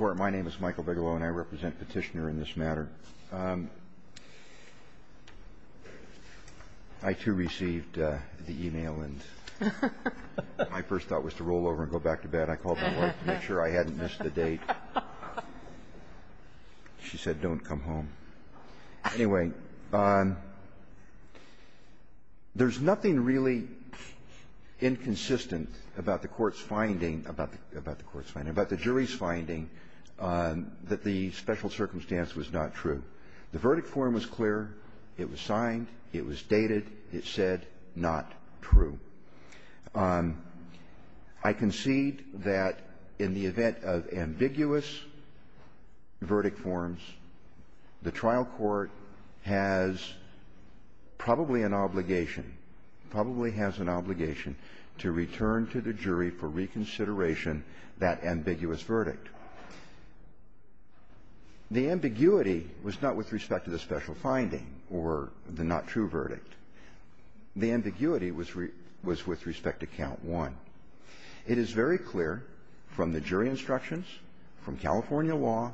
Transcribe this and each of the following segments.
My name is Michael Bigelow, and I represent Petitioner in this matter. I too received the e-mail, and my first thought was to roll over and go back to bed. I called my wife to make sure I hadn't missed the date. She said, Don't come home. Anyway, there's nothing really inconsistent about the Court's finding, about the Court's finding, about the jury's finding that the special circumstance was not true. The verdict form was clear. It was signed. It was dated. It said not true. I concede that in the event of ambiguous verdict forms, the trial court has probably an obligation, probably has an obligation to return to the jury for reconsideration that ambiguous verdict. The ambiguity was not with respect to the special finding or the not true verdict. The ambiguity was with respect to count one. It is very clear from the jury instructions, from California law,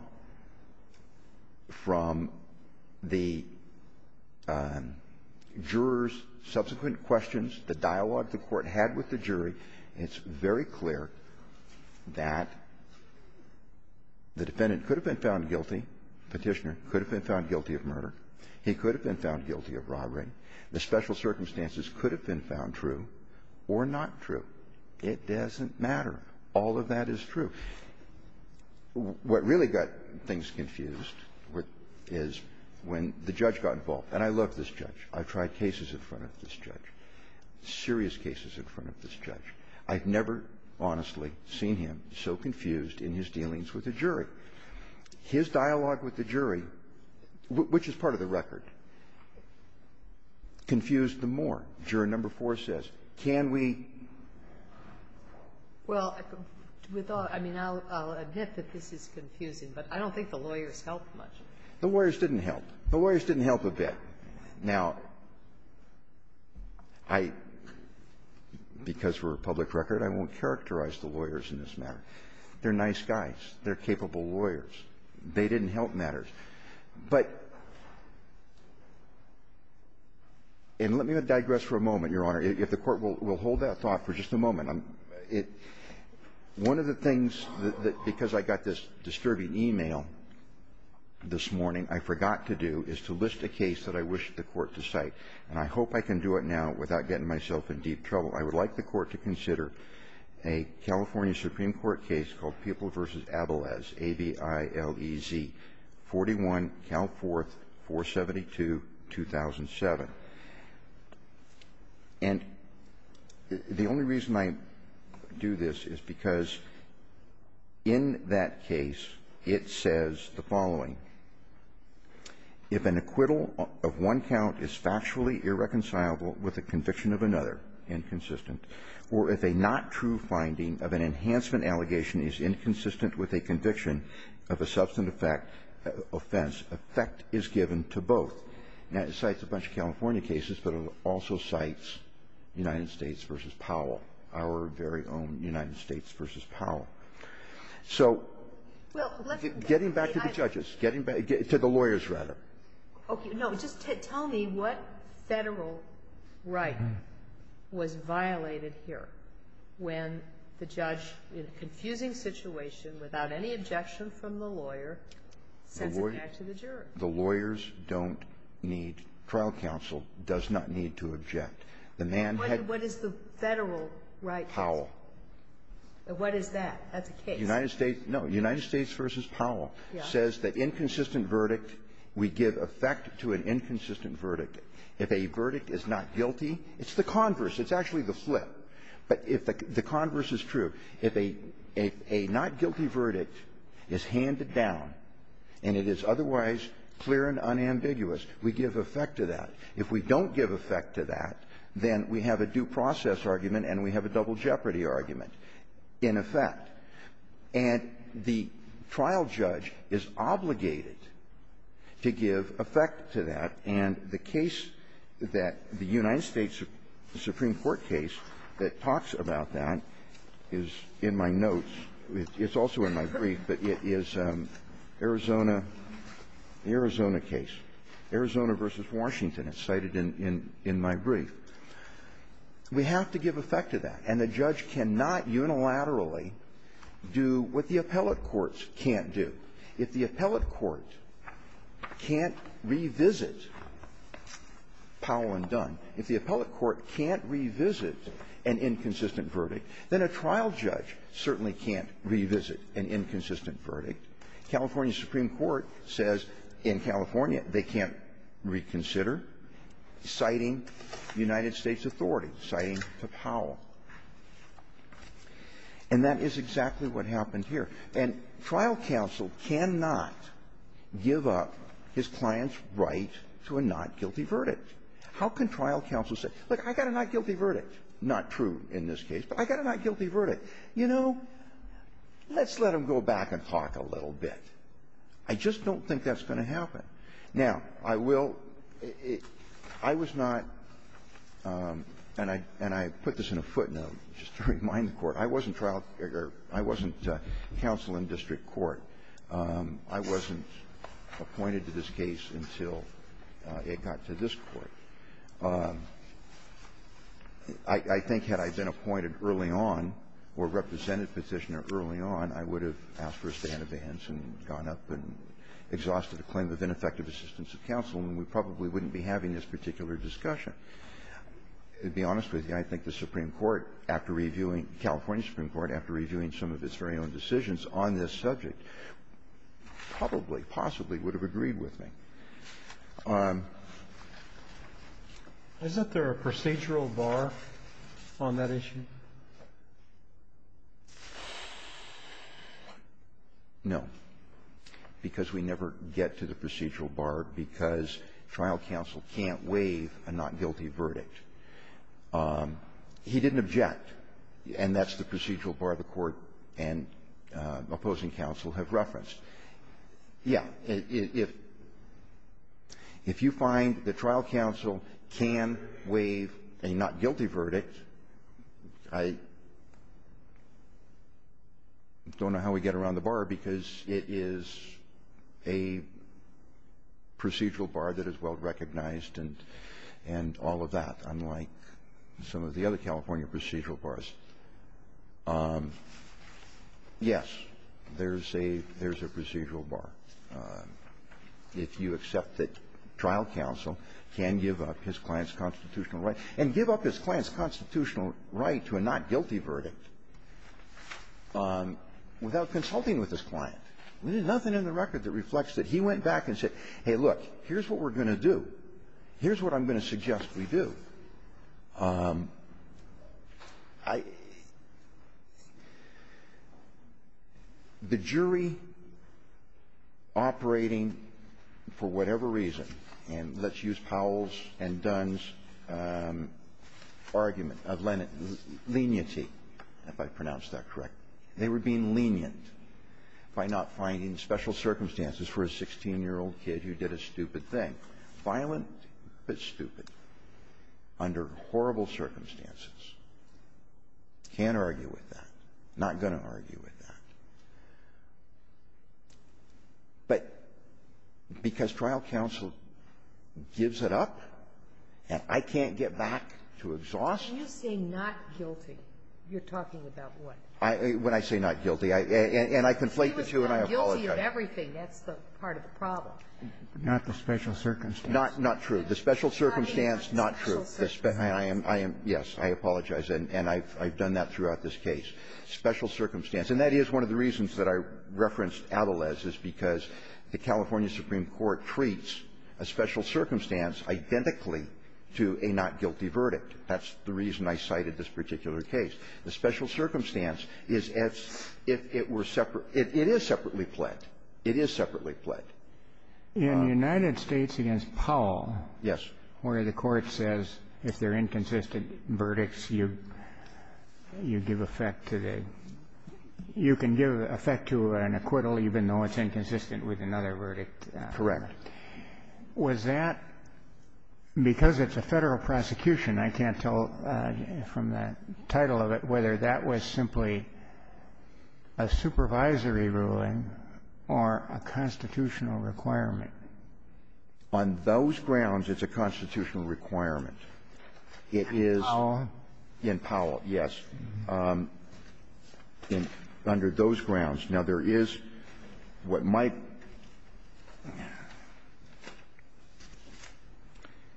from the jurors' subsequent questions, the dialogue the Court had with the jury, it's very clear that the defendant could have been found guilty, Petitioner could have been found guilty of murder. He could have been found guilty of robbery. The special circumstances could have been found true or not true. It doesn't matter. All of that is true. What really got things confused is when the judge got involved. And I love this judge. I've tried cases in front of this judge, serious cases in front of this judge. His dialogue with the jury, which is part of the record, confused them more. Juror number four says, can we — Well, with all — I mean, I'll admit that this is confusing, but I don't think the lawyers helped much. The lawyers didn't help. The lawyers didn't help a bit. Now, I — because we're a public record, I won't characterize the lawyers in this matter. They're nice guys. They're capable lawyers. They didn't help matters. But — and let me digress for a moment, Your Honor, if the Court will hold that thought for just a moment. One of the things that — because I got this disturbing e-mail this morning, I forgot to do, is to list a case that I wish the Court to cite. And I hope I can do it now without getting myself in deep trouble. I would like the Court to consider a California Supreme Court case called People v. Abales, A-B-I-L-E-Z, 41, Cal 4th, 472, 2007. And the only reason I do this is because in that case, it says the following. If an acquittal of one count is factually irreconcilable with a conviction of another inconsistent, or if a not true finding of an enhancement allegation is inconsistent with a conviction of a substance offense, effect is given to both. Now, it cites a bunch of California cases, but it also cites United States v. Powell, our very own United States v. Powell. So getting back to the judges, getting back — to the lawyers, rather. Okay. No, just tell me what Federal right was violated here when the judge, in a confusing situation, without any objection from the lawyer, sends it back to the juror? The lawyers don't need — trial counsel does not need to object. The man had — What is the Federal right? Powell. What is that? That's a case. United States — no. United States v. Powell says the inconsistent verdict, we give effect to an inconsistent verdict. If a verdict is not guilty, it's the converse. It's actually the flip. But if the converse is true, if a not guilty verdict is handed down and it is otherwise clear and unambiguous, we give effect to that. If we don't give effect to that, then we have a due process argument and we have a double jeopardy argument in effect. And the trial judge is obligated to give effect to that. And the case that — the United States Supreme Court case that talks about that is in my notes. It's also in my brief. But it is Arizona — the Arizona case, Arizona v. Washington. It's cited in my brief. We have to give effect to that. And the judge cannot unilaterally do what the appellate courts can't do. If the appellate court can't revisit Powell and Dunn, if the appellate court can't revisit an inconsistent verdict, then a trial judge certainly can't revisit an inconsistent verdict. California Supreme Court says in California they can't reconsider, citing United States authorities, citing Powell. And that is exactly what happened here. And trial counsel cannot give up his client's right to a not guilty verdict. How can trial counsel say, look, I got a not guilty verdict? Not true in this case, but I got a not guilty verdict. You know, let's let him go back and talk a little bit. I just don't think that's going to happen. Now, I will — I was not — and I put this in a footnote just to remind the Court. I wasn't trial — I wasn't counsel in district court. I wasn't appointed to this case until it got to this Court. I think had I been appointed early on or represented Petitioner early on, I would have asked for a stay in advance and gone up and exhausted a claim of ineffective assistance of counsel, and we probably wouldn't be having this particular discussion. To be honest with you, I think the Supreme Court, after reviewing — California Supreme Court, after reviewing some of its very own decisions on this subject, probably, possibly would have agreed with me. Is that there a procedural bar on that issue? No. Because we never get to the procedural bar because trial counsel can't waive a not guilty verdict. He didn't object. And that's the procedural bar the Court and opposing counsel have referenced. Yes. If you find that trial counsel can waive a not guilty verdict, I don't know how we get around the bar because it is a procedural bar that is well recognized and all of that, unlike some of the other California procedural bars. Yes, there's a procedural bar if you accept that trial counsel can give up his client's constitutional right and give up his client's constitutional right to a not guilty verdict without consulting with his client. There's nothing in the record that reflects that. He went back and said, hey, look, here's what we're going to do. Here's what I'm going to suggest we do. The jury operating for whatever reason, and let's use Powell's and Dunn's argument of leniency, if I pronounced that correctly, they were being lenient by not finding special circumstances for a 16-year-old kid who did a stupid thing. Violent, but stupid, under horrible circumstances. Can't argue with that. Not going to argue with that. But because trial counsel gives it up, I can't get back to exhaustion. When you say not guilty, you're talking about what? When I say not guilty. And I conflate the two and I apologize. He was not guilty of everything. That's the part of the problem. Not the special circumstance. Not true. The special circumstance, not true. I am, yes, I apologize. And I've done that throughout this case. Special circumstance. And that is one of the reasons that I referenced Adelez, is because the California Supreme Court treats a special circumstance identically to a not guilty verdict. That's the reason I cited this particular case. The special circumstance is as if it were separate. It is separately pled. It is separately pled. In the United States against Powell. Yes. Where the court says if they're inconsistent verdicts, you give effect to the you can give effect to an acquittal even though it's inconsistent with another verdict. Correct. Was that because it's a Federal prosecution, I can't tell from the title of it whether that was simply a supervisory ruling or a constitutional requirement? On those grounds, it's a constitutional requirement. It is in Powell, yes, under those grounds. Now, there is what might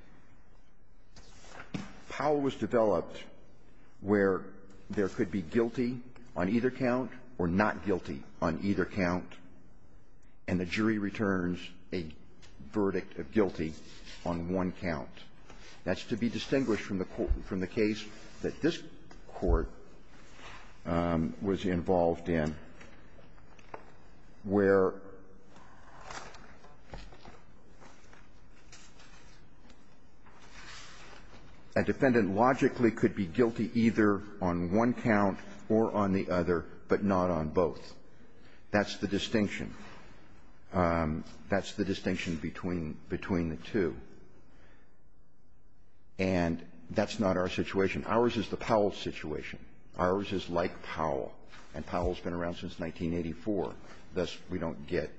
— Powell was developed where there could be guilty on either count or not guilty on either count, and the jury returns a verdict of guilty on one count. That's to be distinguished from the court — from the case that this court was involved in, where a defendant logically could be guilty either on one count or on the other, but not on both. That's the distinction. That's the distinction between the two. And that's not our situation. Ours is the Powell situation. Ours is like Powell, and Powell's been around since 1984. Thus, we don't get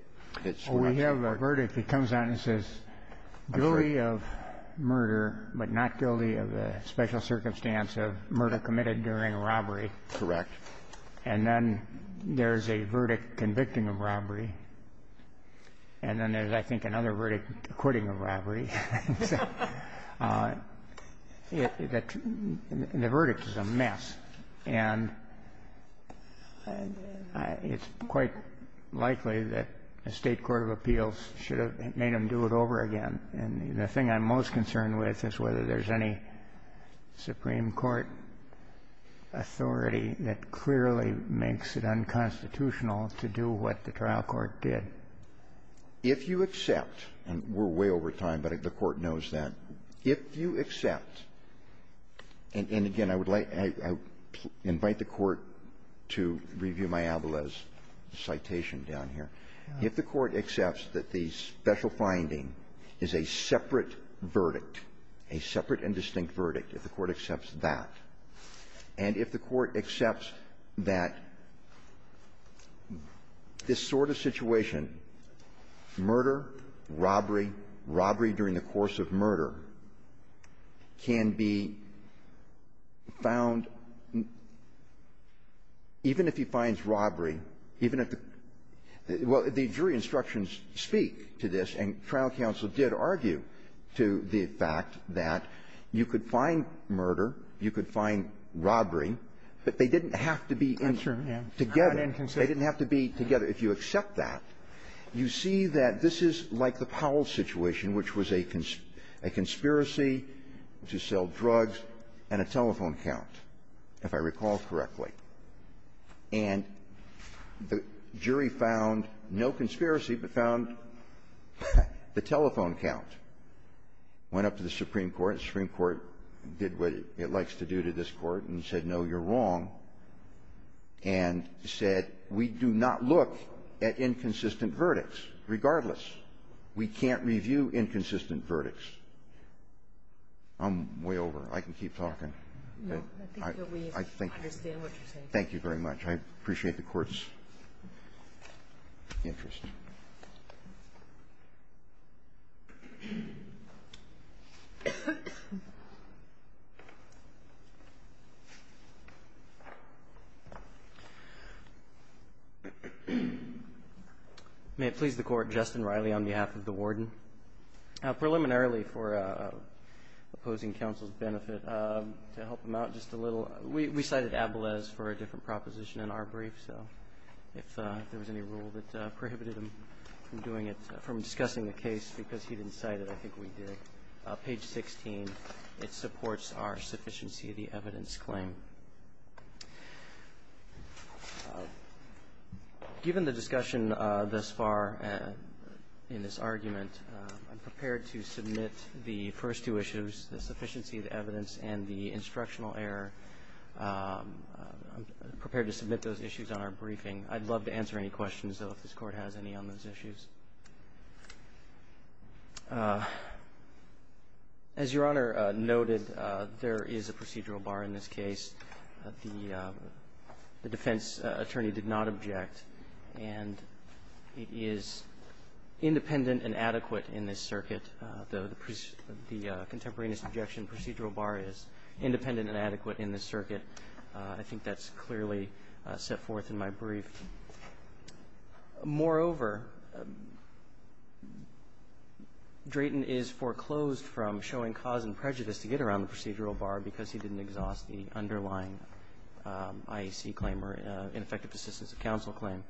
hit so much. Well, we have a verdict that comes out and says guilty of murder, but not guilty of the special circumstance of murder committed during robbery. Correct. And then there's a verdict convicting of robbery. And then there's, I think, another verdict acquitting of robbery. The verdict is a mess, and it's quite likely that a State court of appeals should have made them do it over again. And the thing I'm most concerned with is whether there's any Supreme Court authority that clearly makes it unconstitutional to do what the trial court did. If you accept — and we're way over time, but the Court knows that. If you accept — and again, I would like — I invite the Court to review Mayabella's citation down here. If the Court accepts that the special finding is a separate verdict, a separate and distinct verdict, if the Court accepts that, and if the Court accepts that, if the Court accepts that this sort of situation, murder, robbery, robbery during the course of murder, can be found even if he finds robbery, even if the — well, the jury instructions speak to this, and trial counsel did argue to the fact that you could find murder, you could find robbery, but they didn't have to be in — Robertson, yeah. Together. They didn't have to be together. If you accept that, you see that this is like the Powell situation, which was a conspiracy to sell drugs and a telephone count, if I recall correctly. And the jury found no conspiracy, but found the telephone count. Went up to the Supreme Court. The Supreme Court did what it likes to do to this Court and said, no, you're wrong, and said, we do not look at inconsistent verdicts regardless. We can't review inconsistent verdicts. I'm way over. I can keep talking. No. I think that we understand what you're saying. Thank you very much. I appreciate the Court's interest. May it please the Court, Justin Riley on behalf of the Warden. Preliminarily, for opposing counsel's benefit, to help him out just a little, we cited Abelez for a different proposition in our brief. So if there was any rule that prohibited him from doing it, from discussing the case because he didn't cite it, I think we did. Page 16, it supports our sufficiency of the evidence claim. Given the discussion thus far in this argument, I'm prepared to submit the first two issues, the sufficiency of the evidence and the instructional error. I'm prepared to submit those issues on our briefing. I'd love to answer any questions, though, if this Court has any on those issues. As Your Honor noted, there is a procedural bar in this case. The defense attorney did not object. And it is independent and adequate in this circuit, the contemporaneous objection procedural bar is independent and adequate in this circuit. I think that's clearly set forth in my brief. Moreover, Drayton is foreclosed from showing cause and prejudice to get around the procedural bar because he didn't exhaust the underlying IEC claim or ineffective assistance of counsel claim.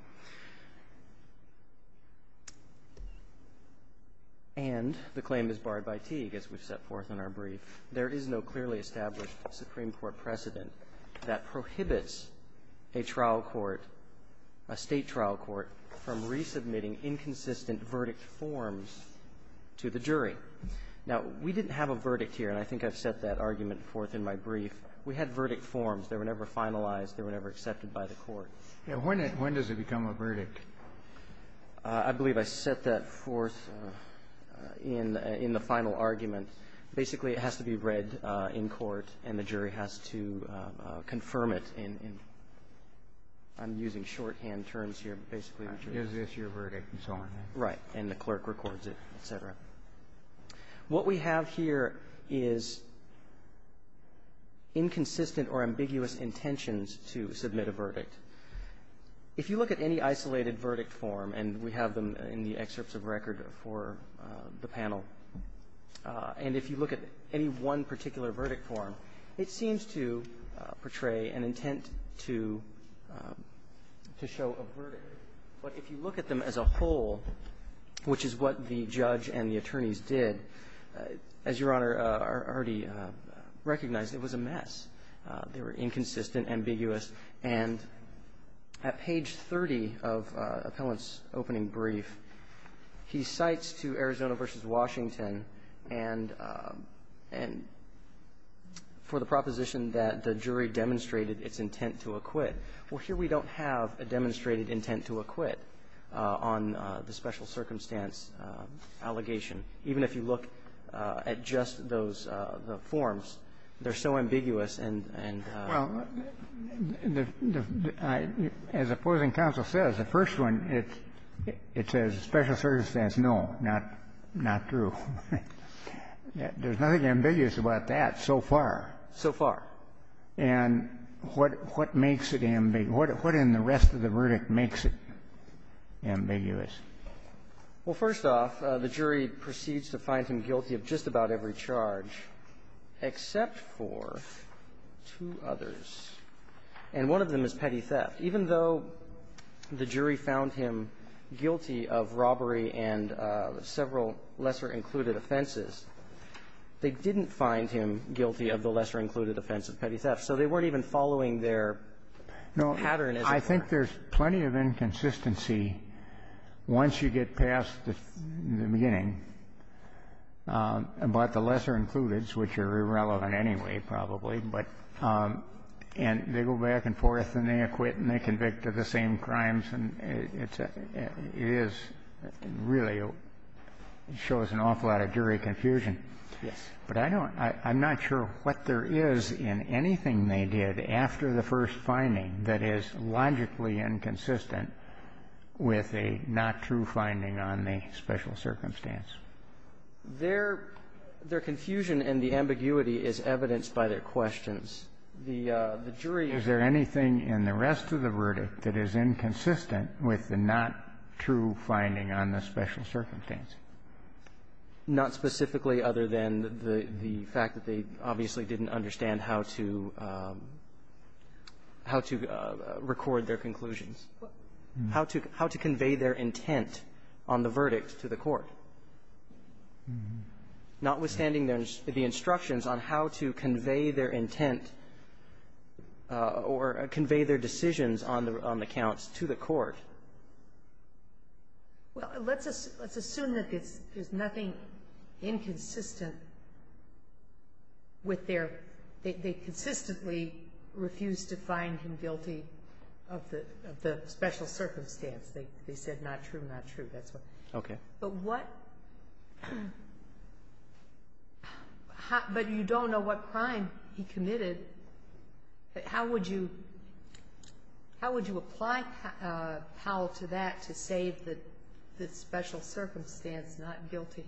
And the claim is barred by Teague, as we've set forth in our brief. There is no clearly established Supreme Court precedent that prohibits a trial court, a State trial court, from resubmitting inconsistent verdict forms to the jury. Now, we didn't have a verdict here, and I think I've set that argument forth in my brief. We had verdict forms. They were never finalized. They were never accepted by the Court. When does it become a verdict? I believe I set that forth in the final argument. Basically, it has to be read in court, and the jury has to confirm it in using shorthand terms here, basically. Is this your verdict and so on? Right. And the clerk records it, et cetera. If you look at any isolated verdict form, and we have them in the excerpts of record for the panel, and if you look at any one particular verdict form, it seems to portray an intent to show a verdict. But if you look at them as a whole, which is what the judge and the attorneys did, as Your Honor already recognized, it was a mess. They were inconsistent, ambiguous. And at page 30 of Appellant's opening brief, he cites to Arizona v. Washington for the proposition that the jury demonstrated its intent to acquit. Well, here we don't have a demonstrated intent to acquit on the special circumstance allegation. Even if you look at just those forms, they're so ambiguous and so on. Well, as opposing counsel says, the first one, it says special circumstance, no, not true. There's nothing ambiguous about that so far. So far. And what makes it ambiguous? What in the rest of the verdict makes it ambiguous? Well, first off, the jury proceeds to find him guilty of just about every charge except for two others, and one of them is petty theft. Even though the jury found him guilty of robbery and several lesser-included offenses, they didn't find him guilty of the lesser-included offense of petty theft. So they weren't even following their pattern as it were. I think there's plenty of inconsistency once you get past the beginning about the lesser-included, which are irrelevant anyway probably, but they go back and forth and they acquit and they convict the same crimes, and it is really shows an awful lot of jury confusion. Yes. But I don't – I'm not sure what there is in anything they did after the first finding that is logically inconsistent with a not-true finding on the special circumstance. Their confusion and the ambiguity is evidenced by their questions. The jury – Is there anything in the rest of the verdict that is inconsistent with the not-true finding on the special circumstance? Not specifically other than the fact that they obviously didn't understand how to – how to record their conclusions. How to – how to convey their intent on the verdict to the court, notwithstanding the instructions on how to convey their intent or convey their decisions on the – on the counts to the court. Well, let's assume that there's nothing inconsistent with their – they consistently refused to find him guilty of the special circumstance. They said not true, not true. That's what – Okay. But what – but you don't know what crime he committed. How would you – how would you apply, Powell, to that to say that the special circumstance is not guilty?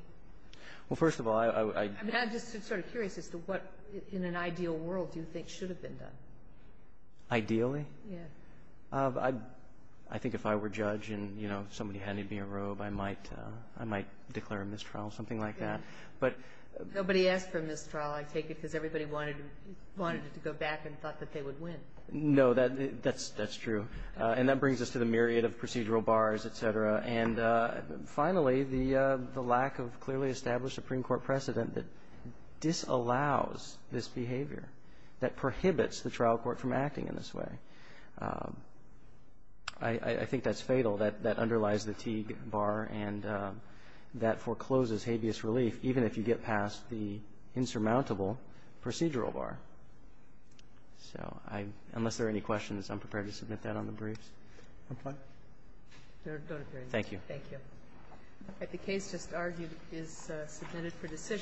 Well, first of all, I – I mean, I'm just sort of curious as to what, in an ideal world, do you think should have been done? Ideally? Yes. I think if I were judge and, you know, somebody handed me a robe, I might – I might declare a mistrial, something like that. But – Nobody asked for a mistrial. I take it because everybody wanted – wanted to go back and thought that they would win. No. That's – that's true. And that brings us to the myriad of procedural bars, et cetera. And finally, the lack of clearly established Supreme Court precedent that disallows this I – I think that's fatal, that – that underlies the Teague bar, and that forecloses habeas relief, even if you get past the insurmountable procedural bar. So I – unless there are any questions, I'm prepared to submit that on the briefs. No. Don't appear. Thank you. Thank you. Okay. The case just argued is submitted for decision.